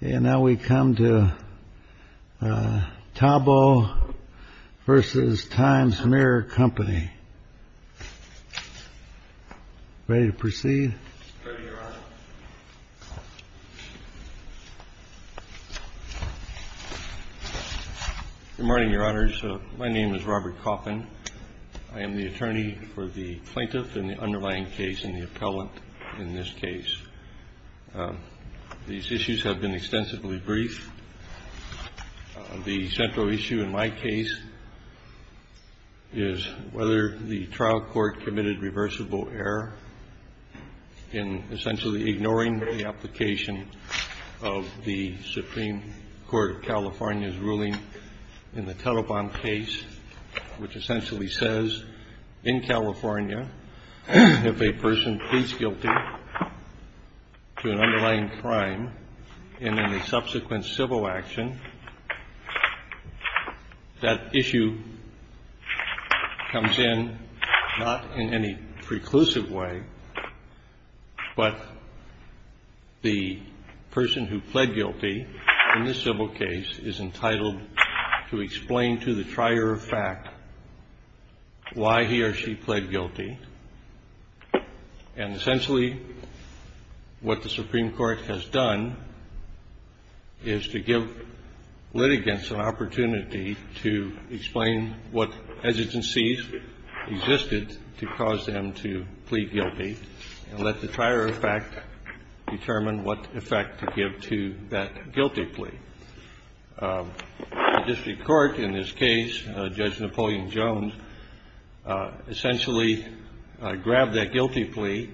Good morning, Your Honors. My name is Robert Coffin. I am the attorney for the plaintiff in the underlying case and the appellant in this case. These issues have been extensively briefed. The central issue in my case is whether the trial court committed reversible error in essentially ignoring the application of the Supreme Court of California's ruling in the Telepon case, which essentially says, in California, if a person pleads guilty, they are acquitted. And in the subsequent civil action, that issue comes in not in any preclusive way, but the person who pled guilty in this civil case is entitled to explain to the trier of fact why he or she pled guilty. And essentially, what the Supreme Court has done is to give litigants an opportunity to explain what hesitancies existed to cause them to plead guilty and let the trier of fact determine what effect to give to that guilty plea. The district court in this case, Judge Napoleon Jones, essentially grabbed that guilty plea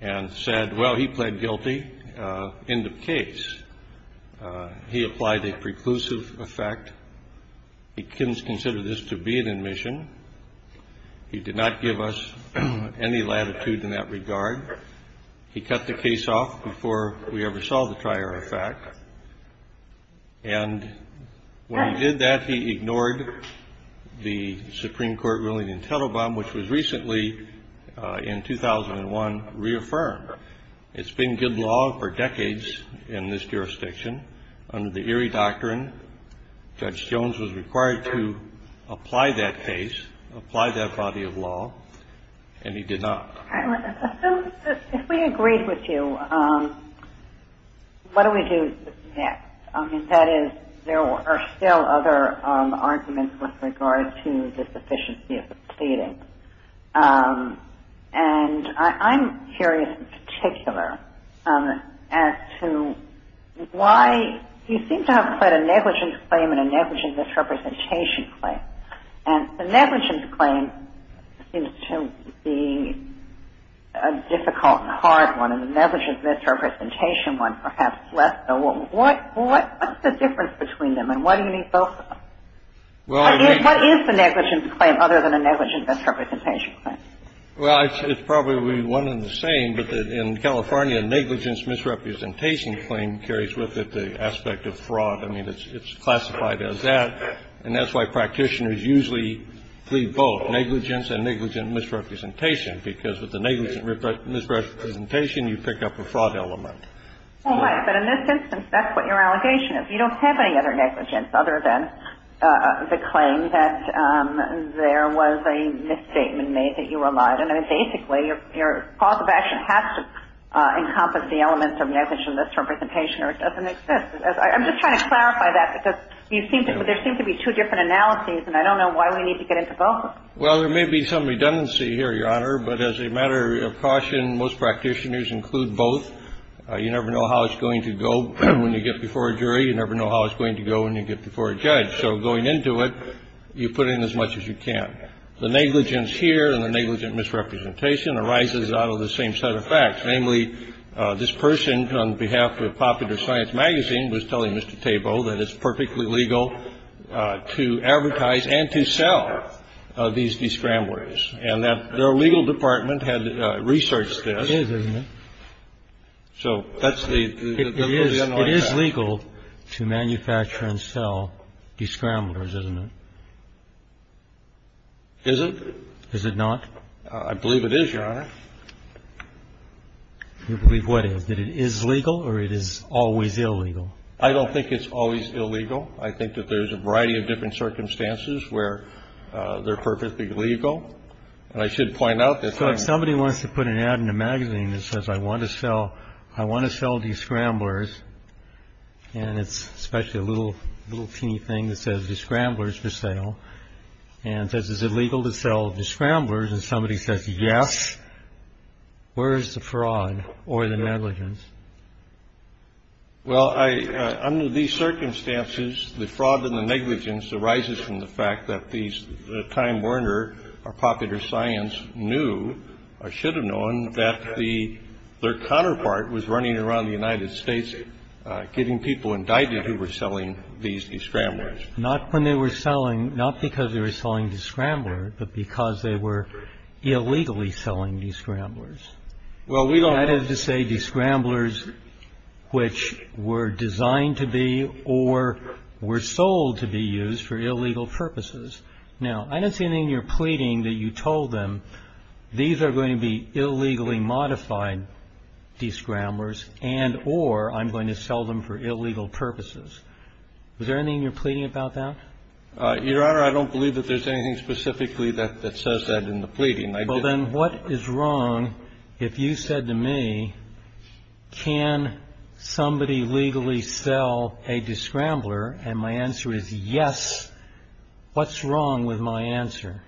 and said, well, he pled guilty in the case. He applied a preclusive effect. He didn't consider this to be an admission. He did not give us any latitude in that regard. He cut the case off before we ever saw the trier of fact. And when he did that, he ignored the Supreme Court ruling in Telebon, which was recently, in 2001, reaffirmed. It's been good law for decades in this jurisdiction. Under the Erie Doctrine, Judge Jones was required to apply that case, apply that body of law, and he did not. If we agreed with you, what do we do next? I mean, that is, there are still other arguments with regard to the sufficiency of the pleading. And I'm curious in particular as to why you seem to have pled a negligence claim and a negligence misrepresentation claim. And the negligence claim seems to be a difficult and hard one, and the negligence misrepresentation one perhaps less so. What's the difference between them, and why do you need both of them? What is the negligence claim other than a negligence misrepresentation claim? Well, it's probably one and the same, but in California, negligence misrepresentation claim carries with it the aspect of fraud. I mean, it's classified as that. And that's why practitioners usually plead both, negligence and negligent misrepresentation, because with the negligent misrepresentation, you pick up a fraud element. All right. But in this instance, that's what your allegation is. You don't have any other negligence other than the claim that there was a misstatement made that you were lying. I mean, basically, your cause of action has to encompass the elements of negligent misrepresentation or it doesn't exist. I'm just trying to clarify that, because there seem to be two different analyses, and I don't know why we need to get into both. Well, there may be some redundancy here, Your Honor, but as a matter of caution, most practitioners include both. You never know how it's going to go when you get before a jury. You never know how it's going to go when you get before a judge. So going into it, you put in as much as you can. The negligence here and the negligent misrepresentation arises out of the same set of facts. Namely, this person, on behalf of Popular Science Magazine, was telling Mr. Tabo that it's perfectly legal to advertise and to sell these discramblers, and that their legal department had researched this. It is, isn't it? So that's the underlying fact. It is legal to manufacture and sell discramblers, isn't it? Is it? Is it not? I believe it is, Your Honor. You believe what is? That it is legal or it is always illegal? I don't think it's always illegal. I think that there's a variety of different circumstances where they're perfectly legal. And I should point out that I'm not. So if somebody wants to put an ad in a magazine that says, I want to sell, I want to sell discramblers, and it's especially a little, little teeny thing that says discramblers for sale, and says, is it legal to sell discramblers? And somebody says, yes. Where is the fraud or the negligence? Well, under these circumstances, the fraud and the negligence arises from the fact that these, Time Warner or Popular Science knew or should have known that their counterpart was running around the United States getting people indicted who were selling these discramblers. Not when they were selling, not because they were selling discramblers, but because they were illegally selling these scramblers. Well, we don't. That is to say, discramblers which were designed to be or were sold to be used for illegal purposes. Now, I don't see anything in your pleading that you told them, these are going to be illegally modified discramblers and or I'm going to sell them for illegal purposes. Was there anything in your pleading about that? Your Honor, I don't believe that there's anything specifically that says that in the pleading. Well, then what is wrong if you said to me, can somebody legally sell a discrambler? And my answer is yes. What's wrong with my answer?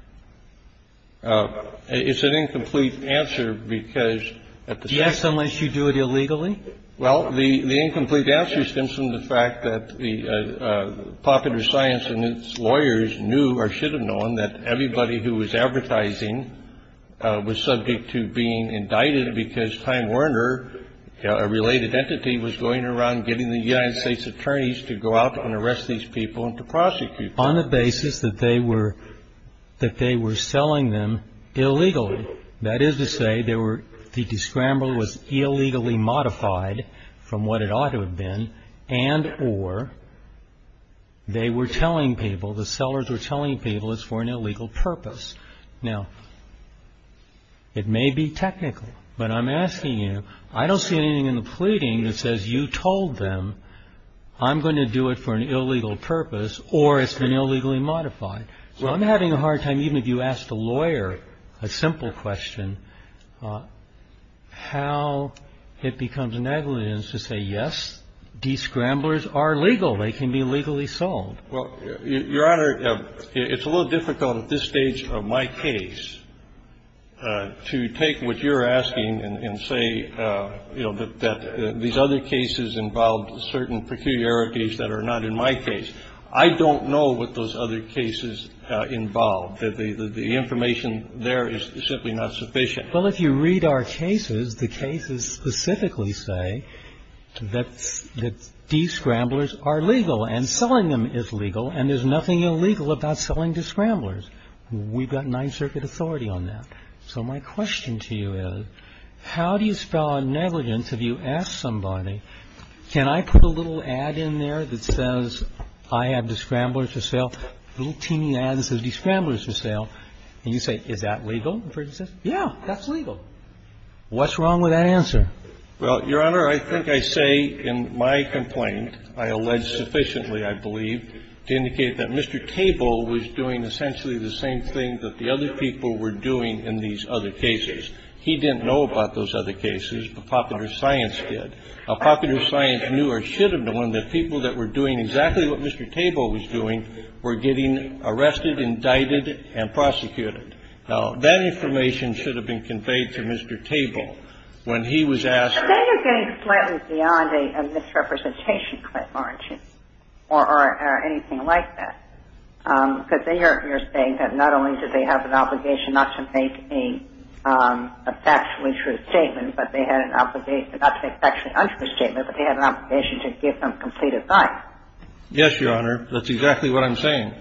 It's an incomplete answer, because at the time Yes, unless you do it illegally. Well, the incomplete answer stems from the fact that the popular science and its lawyers knew or should have known that everybody who was advertising was subject to being indicted because Time Warner, a related entity, was going around getting the United States attorneys to go out and arrest these people and to prosecute. On the basis that they were that they were selling them illegally. That is to say they were the discrambler was illegally modified from what it ought to have been. And or they were telling people the sellers were telling people it's for an illegal purpose. Now, it may be technical, but I'm asking you, I don't see anything in the pleading that says you told them, I'm going to do it for an illegal purpose or it's been illegally modified. So I'm having a hard time, even if you ask the lawyer a simple question, how it becomes negligence to say, yes, these scramblers are legal. They can be legally sold. Well, Your Honor, it's a little difficult at this stage of my case to take what you're asking and say, you know, that these other cases involved certain peculiarities that are not in my case. I don't know what those other cases involved that the information there is simply not sufficient. Well, if you read our cases, the cases specifically say that these scramblers are legal and selling them is legal. And there's nothing illegal about selling to scramblers. We've got Ninth Circuit authority on that. So my question to you is, how do you spell negligence? If you ask somebody, can I put a little ad in there that says I have the scramblers for sale, a little teeny ad that says the scramblers for sale, and you say, is that legal? Yeah, that's legal. What's wrong with that answer? Well, Your Honor, I think I say in my complaint, I allege sufficiently, I believe, to indicate that Mr. Table was doing essentially the same thing that the other people were doing in these other cases. He didn't know about those other cases. But popular science did. Now, popular science knew or should have known that people that were doing exactly what Mr. Table was doing were getting arrested, indicted, and prosecuted. Now, that information should have been conveyed to Mr. Table when he was asked. Then you're getting slightly beyond a misrepresentation clip, aren't you, or anything like that. Because you're saying that not only did they have an obligation not to make a factually true statement, but they had an obligation, not to make a factually untrue statement, but they had an obligation to give him complete advice. Yes, Your Honor. That's exactly what I'm saying.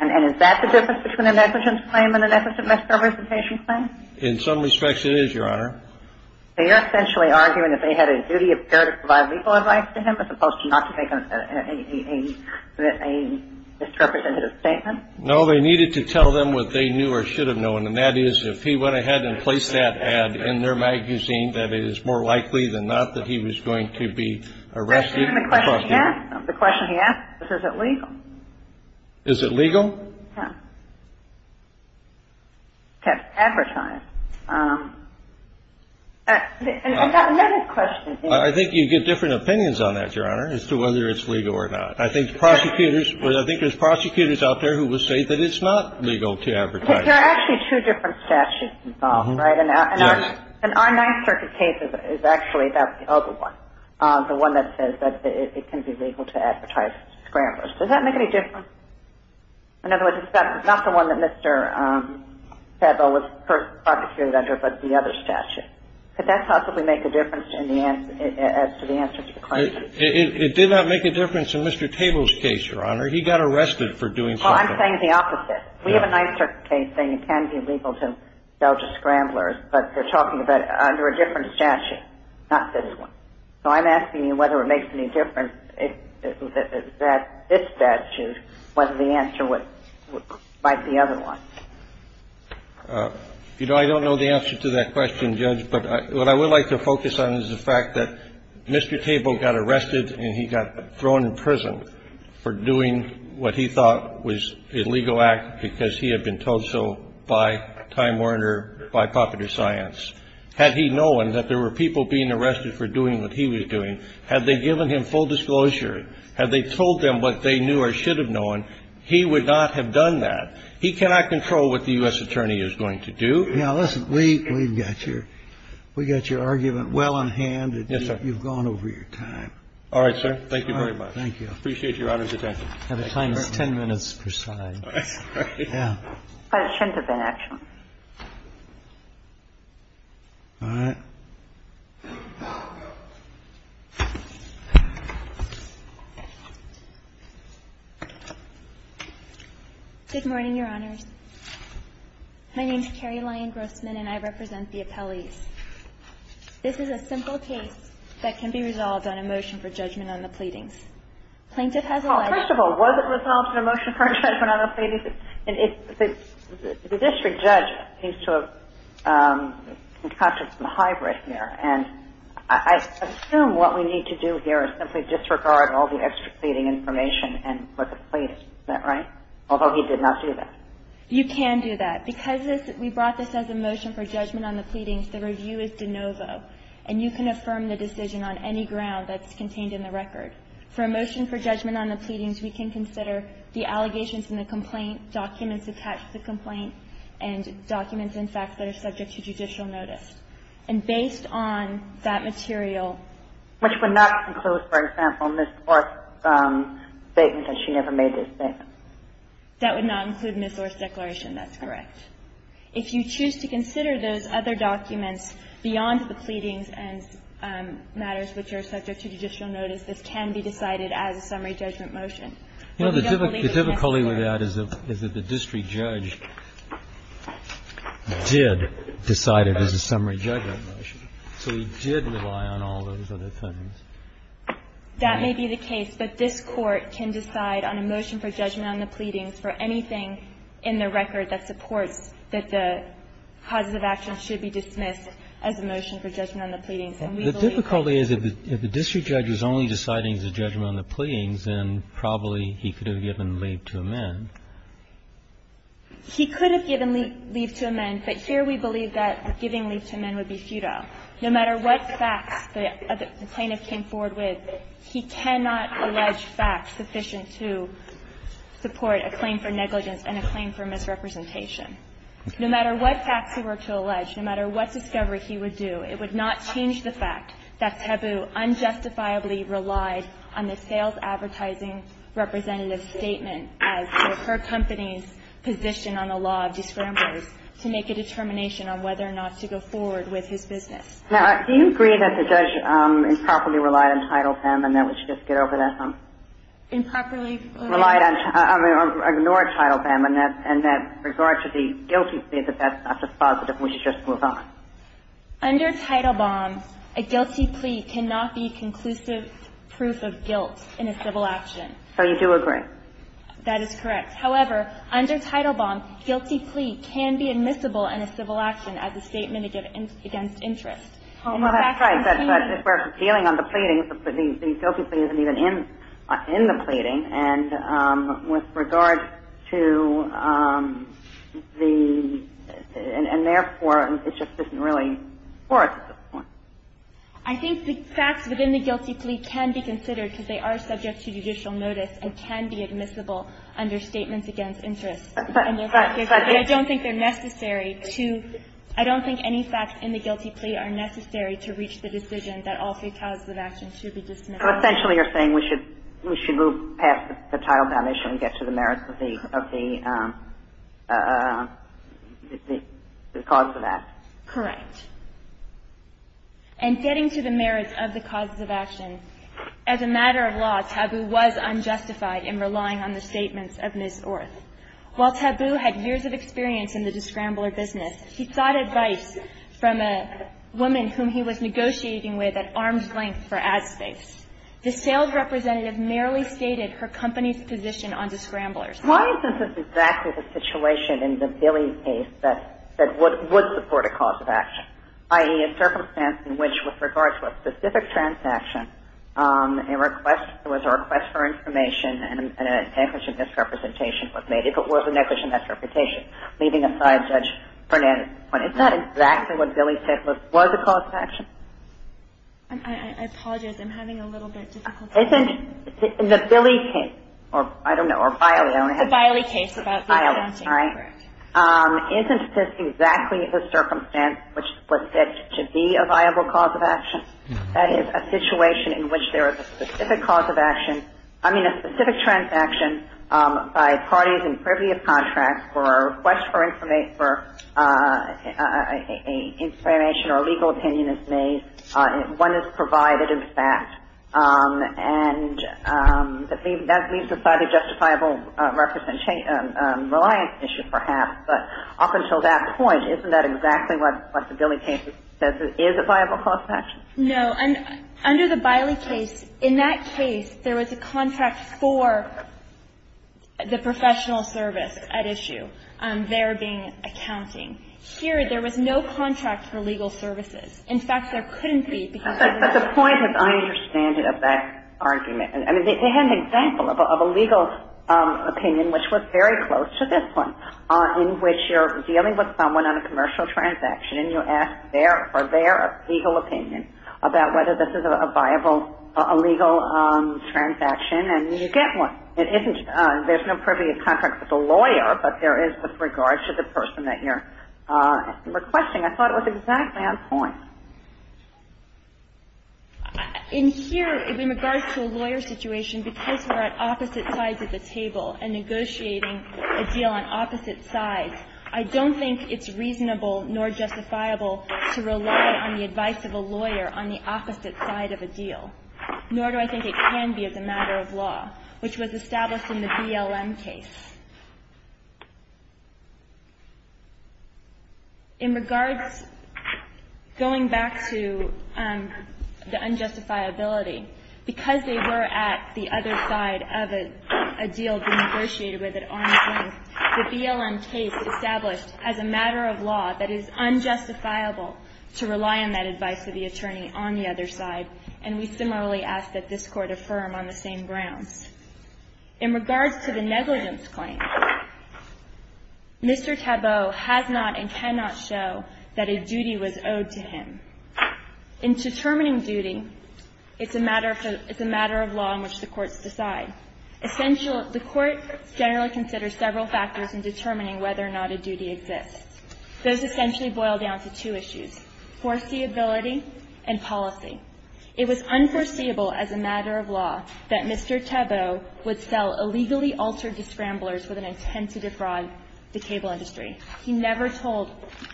And is that the difference between a negligence claim and a negligent misrepresentation claim? In some respects, it is, Your Honor. They are essentially arguing that they had a duty of care to provide legal advice to a misrepresentative statement. No, they needed to tell them what they knew or should have known. And that is, if he went ahead and placed that ad in their magazine, that it is more likely than not that he was going to be arrested. And the question he asked was, is it legal? Is it legal? Yes. To advertise. And another question. I think you get different opinions on that, Your Honor, as to whether it's legal or not. I think prosecutors, I think there's prosecutors out there who will say that it's not legal to advertise. There are actually two different statutes involved, right? Yes. And our Ninth Circuit case is actually about the other one, the one that says that it can be legal to advertise scramblers. Does that make any difference? In other words, it's not the one that Mr. Sedlow was prosecuted under, but the other statute. Could that possibly make a difference as to the answer to the question? It did not make a difference in Mr. Table's case, Your Honor. He got arrested for doing something. Well, I'm saying the opposite. We have a Ninth Circuit case saying it can be legal to sell to scramblers, but they're talking about under a different statute, not this one. So I'm asking you whether it makes any difference that this statute, whether the answer might be the other one. You know, I don't know the answer to that question, Judge, but what I would like to focus on is the fact that Mr. Table got arrested and he got thrown in prison for doing what he thought was an illegal act because he had been told so by Time Warner, by Popular Science. Had he known that there were people being arrested for doing what he was doing, had they given him full disclosure, had they told them what they knew or should have known, he would not have done that. He cannot control what the U.S. attorney is going to do. Now, listen. We've got your argument well in hand. Yes, sir. You've gone over your time. All right, sir. Thank you very much. Thank you. I appreciate Your Honor's attention. The time is 10 minutes per side. All right. Good morning, Your Honors. My name is Carrie Lyon Grossman, and I represent the appellees. This is a simple case that can be resolved on a motion for judgment on the pleadings. Plaintiff has a right to decide. Well, first of all, was it resolved in a motion for a judgment on the pleadings? And I assume what we need to do here is simply disregard all the extra pleading information and what the plaintiff said, right? Although he did not do that. You can do that. Because we brought this as a motion for judgment on the pleadings, the review is de novo, and you can affirm the decision on any ground that's contained in the record. For a motion for judgment on the pleadings, we can consider the allegations in the complaint, documents attached to the complaint, and documents, in fact, that are subject to judicial notice. And based on that material. Which would not include, for example, Ms. Orr's statement that she never made this statement. That would not include Ms. Orr's declaration. That's correct. If you choose to consider those other documents beyond the pleadings and matters which are subject to judicial notice, this can be decided as a summary judgment motion. You know, the difficulty with that is that the district judge did decide it as a summary judgment motion. So he did rely on all those other things. That may be the case. But this Court can decide on a motion for judgment on the pleadings for anything in the record that supports that the positive actions should be dismissed as a motion for judgment on the pleadings. The difficulty is if the district judge is only deciding the judgment on the pleadings, then probably he could have given leave to amend. He could have given leave to amend, but here we believe that giving leave to amend would be futile. No matter what facts the plaintiff came forward with, he cannot allege facts sufficient to support a claim for negligence and a claim for misrepresentation. No matter what facts he were to allege, no matter what discovery he would do, it would not change the fact that Tabu unjustifiably relied on the sales advertising representative's statement as to her company's position on the law of disgramblers to make a determination on whether or not to go forward with his business. Now, do you agree that the judge improperly relied on Title Vim and that we should just get over that? Improperly? Relied on or ignored Title Vim and that in regard to the guilty plead, that that's not just positive and we should just move on? Under Title Vim, a guilty plea cannot be conclusive proof of guilt in a civil action. So you do agree? That is correct. However, under Title Vim, guilty plea can be admissible in a civil action as a statement against interest. Well, that's right. But if we're appealing on the pleading, the guilty plea isn't even in the pleading. And with regard to the – and therefore, it just isn't really for us at this point. I think the facts within the guilty plea can be considered because they are subject to judicial notice and can be admissible under statements against interest. But I don't think they're necessary to – I don't think any facts in the guilty plea are necessary to reach the decision that all three causes of action should be dismissed. So essentially, you're saying we should – we should move past the Title Vim issue and get to the merits of the – of the cause of action. Correct. And getting to the merits of the causes of action, as a matter of law, Tabu was unjustified in relying on the statements of Ms. Orth. While Tabu had years of experience in the discrambler business, he sought advice from a woman whom he was negotiating with at arm's length for ad space. The sales representative merely stated her company's position on discramblers. Why is this exactly the situation in the Billy case that – that would support a cause of action, i.e., a circumstance in which, with regard to a specific transaction, a request – it was a request for information and an negligent misrepresentation was made, if it was a negligent misrepresentation, leaving aside Judge Fernandez's was a cause of action? I apologize. I'm having a little bit difficulty. Isn't the Billy case – or, I don't know, or Biley. The Biley case about the accounting. Biley, all right. Correct. Isn't this exactly the circumstance which would fit to be a viable cause of action? That is, a situation in which there is a specific cause of action – I mean, a specific transaction by parties in privy of contracts for a request for information or a legal opinion is made. One is provided, in fact, and that leaves aside a justifiable reliance issue, perhaps. But up until that point, isn't that exactly what the Billy case says is a viable cause of action? No. Under the Biley case, in that case, there was a contract for the professional service at issue, there being accounting. Here, there was no contract for legal services. In fact, there couldn't be because there was no – But the point, as I understand it, of that argument – I mean, they had an example of a legal opinion, which was very close to this one, in which you're dealing with someone on a commercial transaction and you ask their – for their legal opinion about whether this is a viable – a legal transaction. And you get one. It isn't – there's no privy of contracts with a lawyer, but there is with regards to the person that you're requesting. I thought it was exactly on point. In here, in regards to a lawyer situation, because we're at opposite sides of the table and negotiating a deal on opposite sides, I don't think it's reasonable nor justifiable to rely on the advice of a lawyer on the opposite side of a deal, nor do I think it can be as a matter of law, which was established in the BLM case. In regards – going back to the unjustifiability, because they were at the other side of a deal being negotiated with at arm's length, the BLM case established as a matter of law that it is unjustifiable to rely on that advice of the attorney on the other side. And we similarly ask that this Court affirm on the same grounds. In regards to the negligence claim, Mr. Tabot has not and cannot show that a duty was owed to him. In determining duty, it's a matter of – it's a matter of law in which the courts decide. Essential – the court generally considers several factors in determining whether or not a duty exists. Those essentially boil down to two issues, foreseeability and policy. It was unforeseeable as a matter of law that Mr. Tabot would sell illegally altered scramblers with an intent to defraud the cable industry. He never told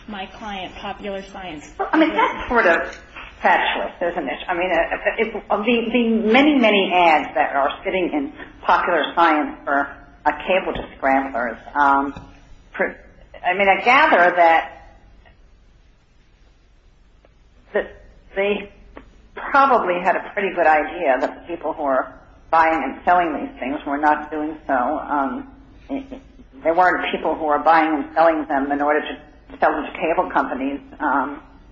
my client Popular Science. Well, I mean, that's sort of specialist, isn't it? I mean, the many, many ads that are sitting in Popular Science for a cable to scramblers – I mean, I gather that – that they probably had a pretty good idea that the people who are buying and selling these things were not doing so. There weren't people who were buying and selling them in order to sell them to cable companies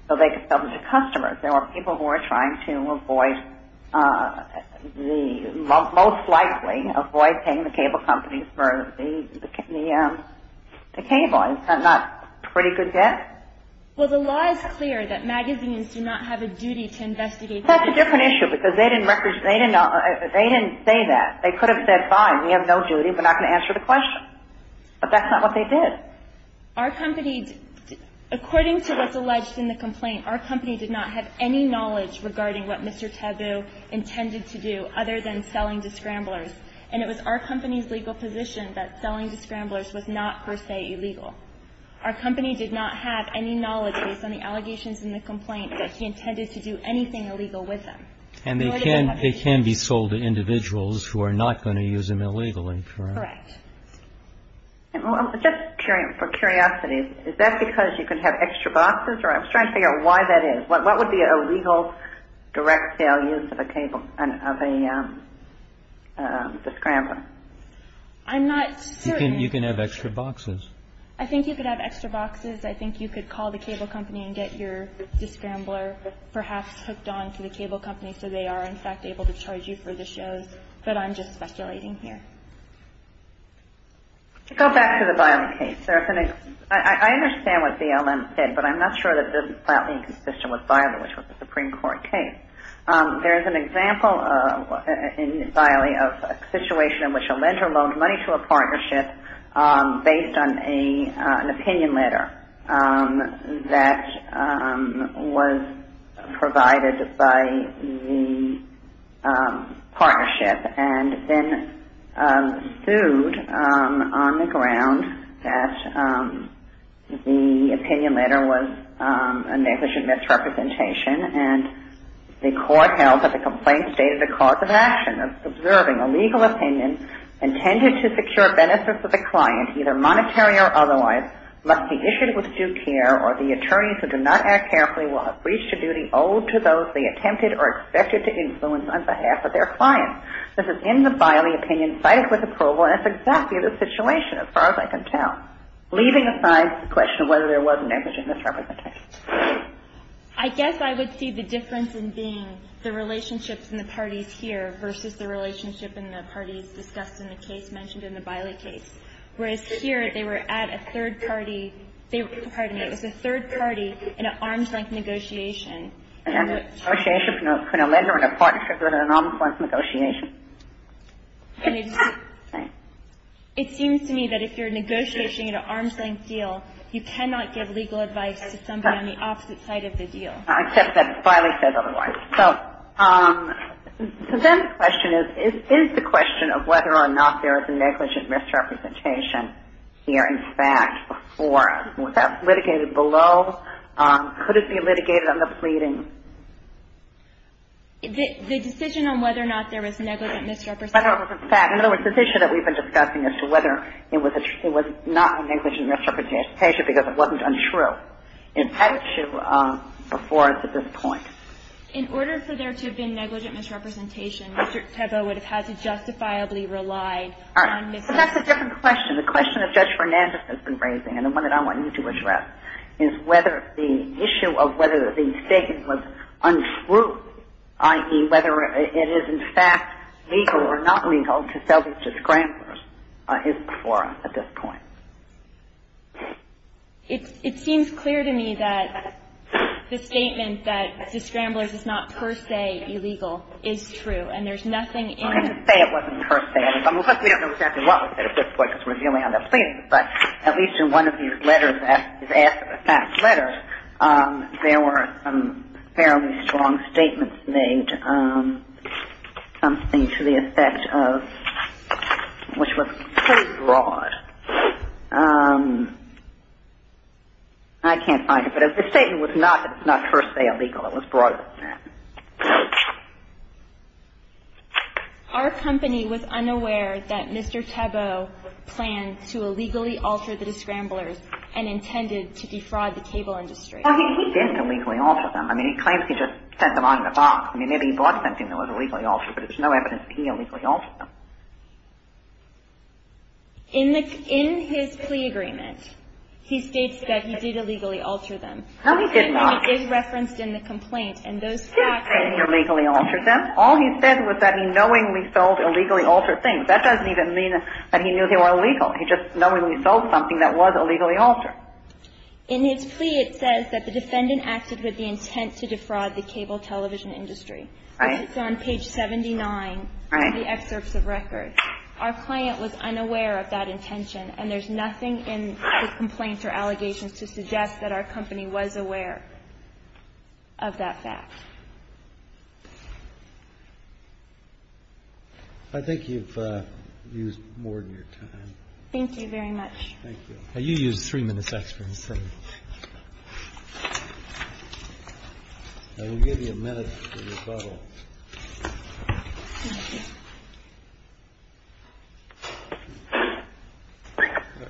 so they could sell them to customers. There were people who were trying to avoid the – most likely avoid paying the cable companies for the cable. Is that not a pretty good guess? Well, the law is clear that magazines do not have a duty to investigate – That's a different issue because they didn't – they didn't say that. They could have said, fine, we have no duty, we're not going to answer the question. But that's not what they did. Our company – according to what's alleged in the complaint, our company did not have any knowledge regarding what Mr. Tabot intended to do other than selling to scramblers. And it was our company's legal position that selling to scramblers was not per se illegal. Our company did not have any knowledge based on the allegations in the complaint that he intended to do anything illegal with them. And they can be sold to individuals who are not going to use them illegally, correct? Correct. Just for curiosity, is that because you can have extra boxes? I'm just trying to figure out why that is. What would be a legal direct sale use of a cable – of a scrambler? I'm not certain. You can have extra boxes. I think you could have extra boxes. I think you could call the cable company and get your scrambler perhaps hooked on to the cable company so they are, in fact, able to charge you for the shows. But I'm just speculating here. To go back to the Biley case, there's an – I understand what BLM said, but I'm not sure that this file is consistent with Biley, which was a Supreme Court case. There is an example in Biley of a situation in which a lender loaned money to a partnership based on an opinion letter that was provided by the partnership and then sued on the ground that the opinion letter was a negligent misrepresentation. And the court held that the complaint stated the cause of action of observing a legal opinion intended to secure benefit for the client, either monetary or otherwise, must be issued with due care or the attorney who did not act carefully will have reached a duty owed to those they attempted or expected to influence on behalf of their client. This is in the Biley opinion, cited with approval, and it's exactly this situation as far as I can tell, leaving aside the question of whether there was negligent misrepresentation. I guess I would see the difference in being the relationships and the parties here versus the relationship and the parties discussed in the case mentioned in the Biley case. Whereas here, they were at a third party – pardon me – it was a third party in an arm's length negotiation. And the negotiation between a lender and a partnership was an arm's length negotiation. And it seems to me that if you're negotiating an arm's length deal, you cannot give legal advice to somebody on the opposite side of the deal. Except that Biley says otherwise. So then the question is, is the question of whether or not there was negligent misrepresentation here in fact, or was that litigated below? Could it be litigated on the pleading? The decision on whether or not there was negligent misrepresentation. In other words, this issue that we've been discussing as to whether it was not negligent misrepresentation because it wasn't untrue. It had to before at this point. In order for there to have been negligent misrepresentation, Mr. Teboe would have had to justifiably rely on misrepresentation. But that's a different question. The question that Judge Fernandez has been raising, and the one that I want you to address, is whether the issue of whether the statement was untrue, i.e., whether it is in fact legal or not legal to sell these disgramblers is before us at this point. It seems clear to me that the statement that disgramblers is not per se illegal is true. And there's nothing in it. I'm not going to say it wasn't per se. I mean, of course, we don't know exactly what was said at this point because we're dealing on the pleading. But at least in one of these letters that was asked in the past letter, there were some fairly strong statements made, something to the effect of, which was pretty broad. I can't find it. But the statement was not per se illegal. It was broader than that. Our company was unaware that Mr. Tebow planned to illegally alter the disgramblers and intended to defraud the cable industry. Well, he didn't illegally alter them. I mean, he claims he just sent them out of the box. I mean, maybe he bought something that was illegally altered, but there's no evidence that he illegally altered them. In his plea agreement, he states that he did illegally alter them. No, he did not. He did say he illegally altered them. All he said was that he knowingly sold illegally altered things. That doesn't even mean that he knew they were illegal. He just knowingly sold something that was illegally altered. In his plea, it says that the defendant acted with the intent to defraud the cable television industry. Right. It's on page 79 of the excerpts of record. Our client was unaware of that intention, and there's nothing in the complaints or allegations to suggest that our company was aware of that fact. I think you've used more than your time. Thank you very much. Thank you. You used three minutes extra. I will give you a minute to rebuttal.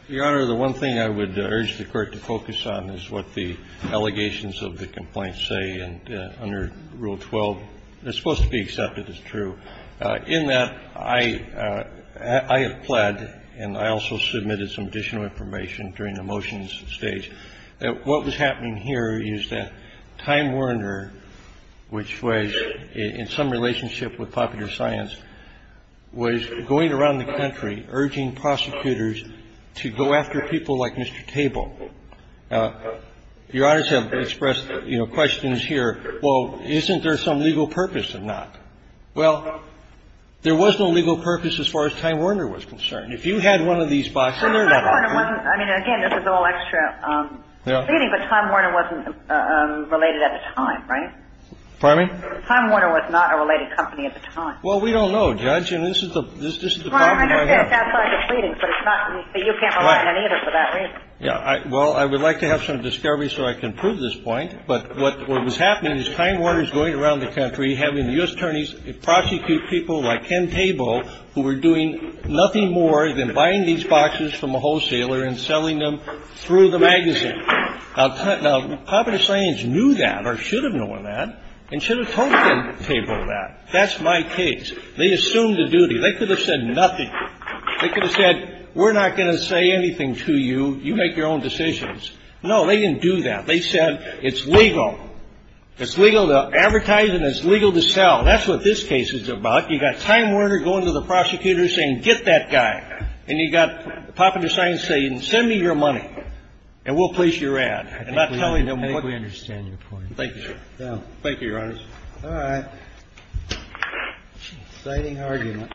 Your Honor, the one thing I would urge the Court to focus on is what the allegations of the complaints say, and under Rule 12, they're supposed to be accepted as true. In that, I have pled, and I also submitted some additional information during the motions that what was happening here is that Time Warner, which was in some relationship with Popular Science, was going around the country urging prosecutors to go after people like Mr. Table. Your Honors have expressed, you know, questions here. Well, isn't there some legal purpose in that? Well, there was no legal purpose as far as Time Warner was concerned. If you had one of these boxes. I mean, again, this is all extra. But Time Warner wasn't related at the time, right? Pardon me? Time Warner was not a related company at the time. Well, we don't know, Judge, and this is the problem we have. Well, I understand. It sounds like a pleading, but it's not. But you can't believe it either for that reason. Well, I would like to have some discovery so I can prove this point, but what was happening is Time Warner was going around the country having U.S. attorneys prosecute people like Ken Table, who were doing nothing more than buying these boxes from a wholesaler and selling them through the magazine. Now, Popular Science knew that or should have known that and should have told Ken Table that. That's my case. They assumed the duty. They could have said nothing. They could have said we're not going to say anything to you. You make your own decisions. No, they didn't do that. They said it's legal. It's legal to advertise and it's legal to sell. That's what this case is about. You've got Time Warner going to the prosecutor saying get that guy. And you've got Popular Science saying send me your money and we'll place your ad. I think we understand your point. Thank you. Thank you, Your Honor. All right. Exciting argument.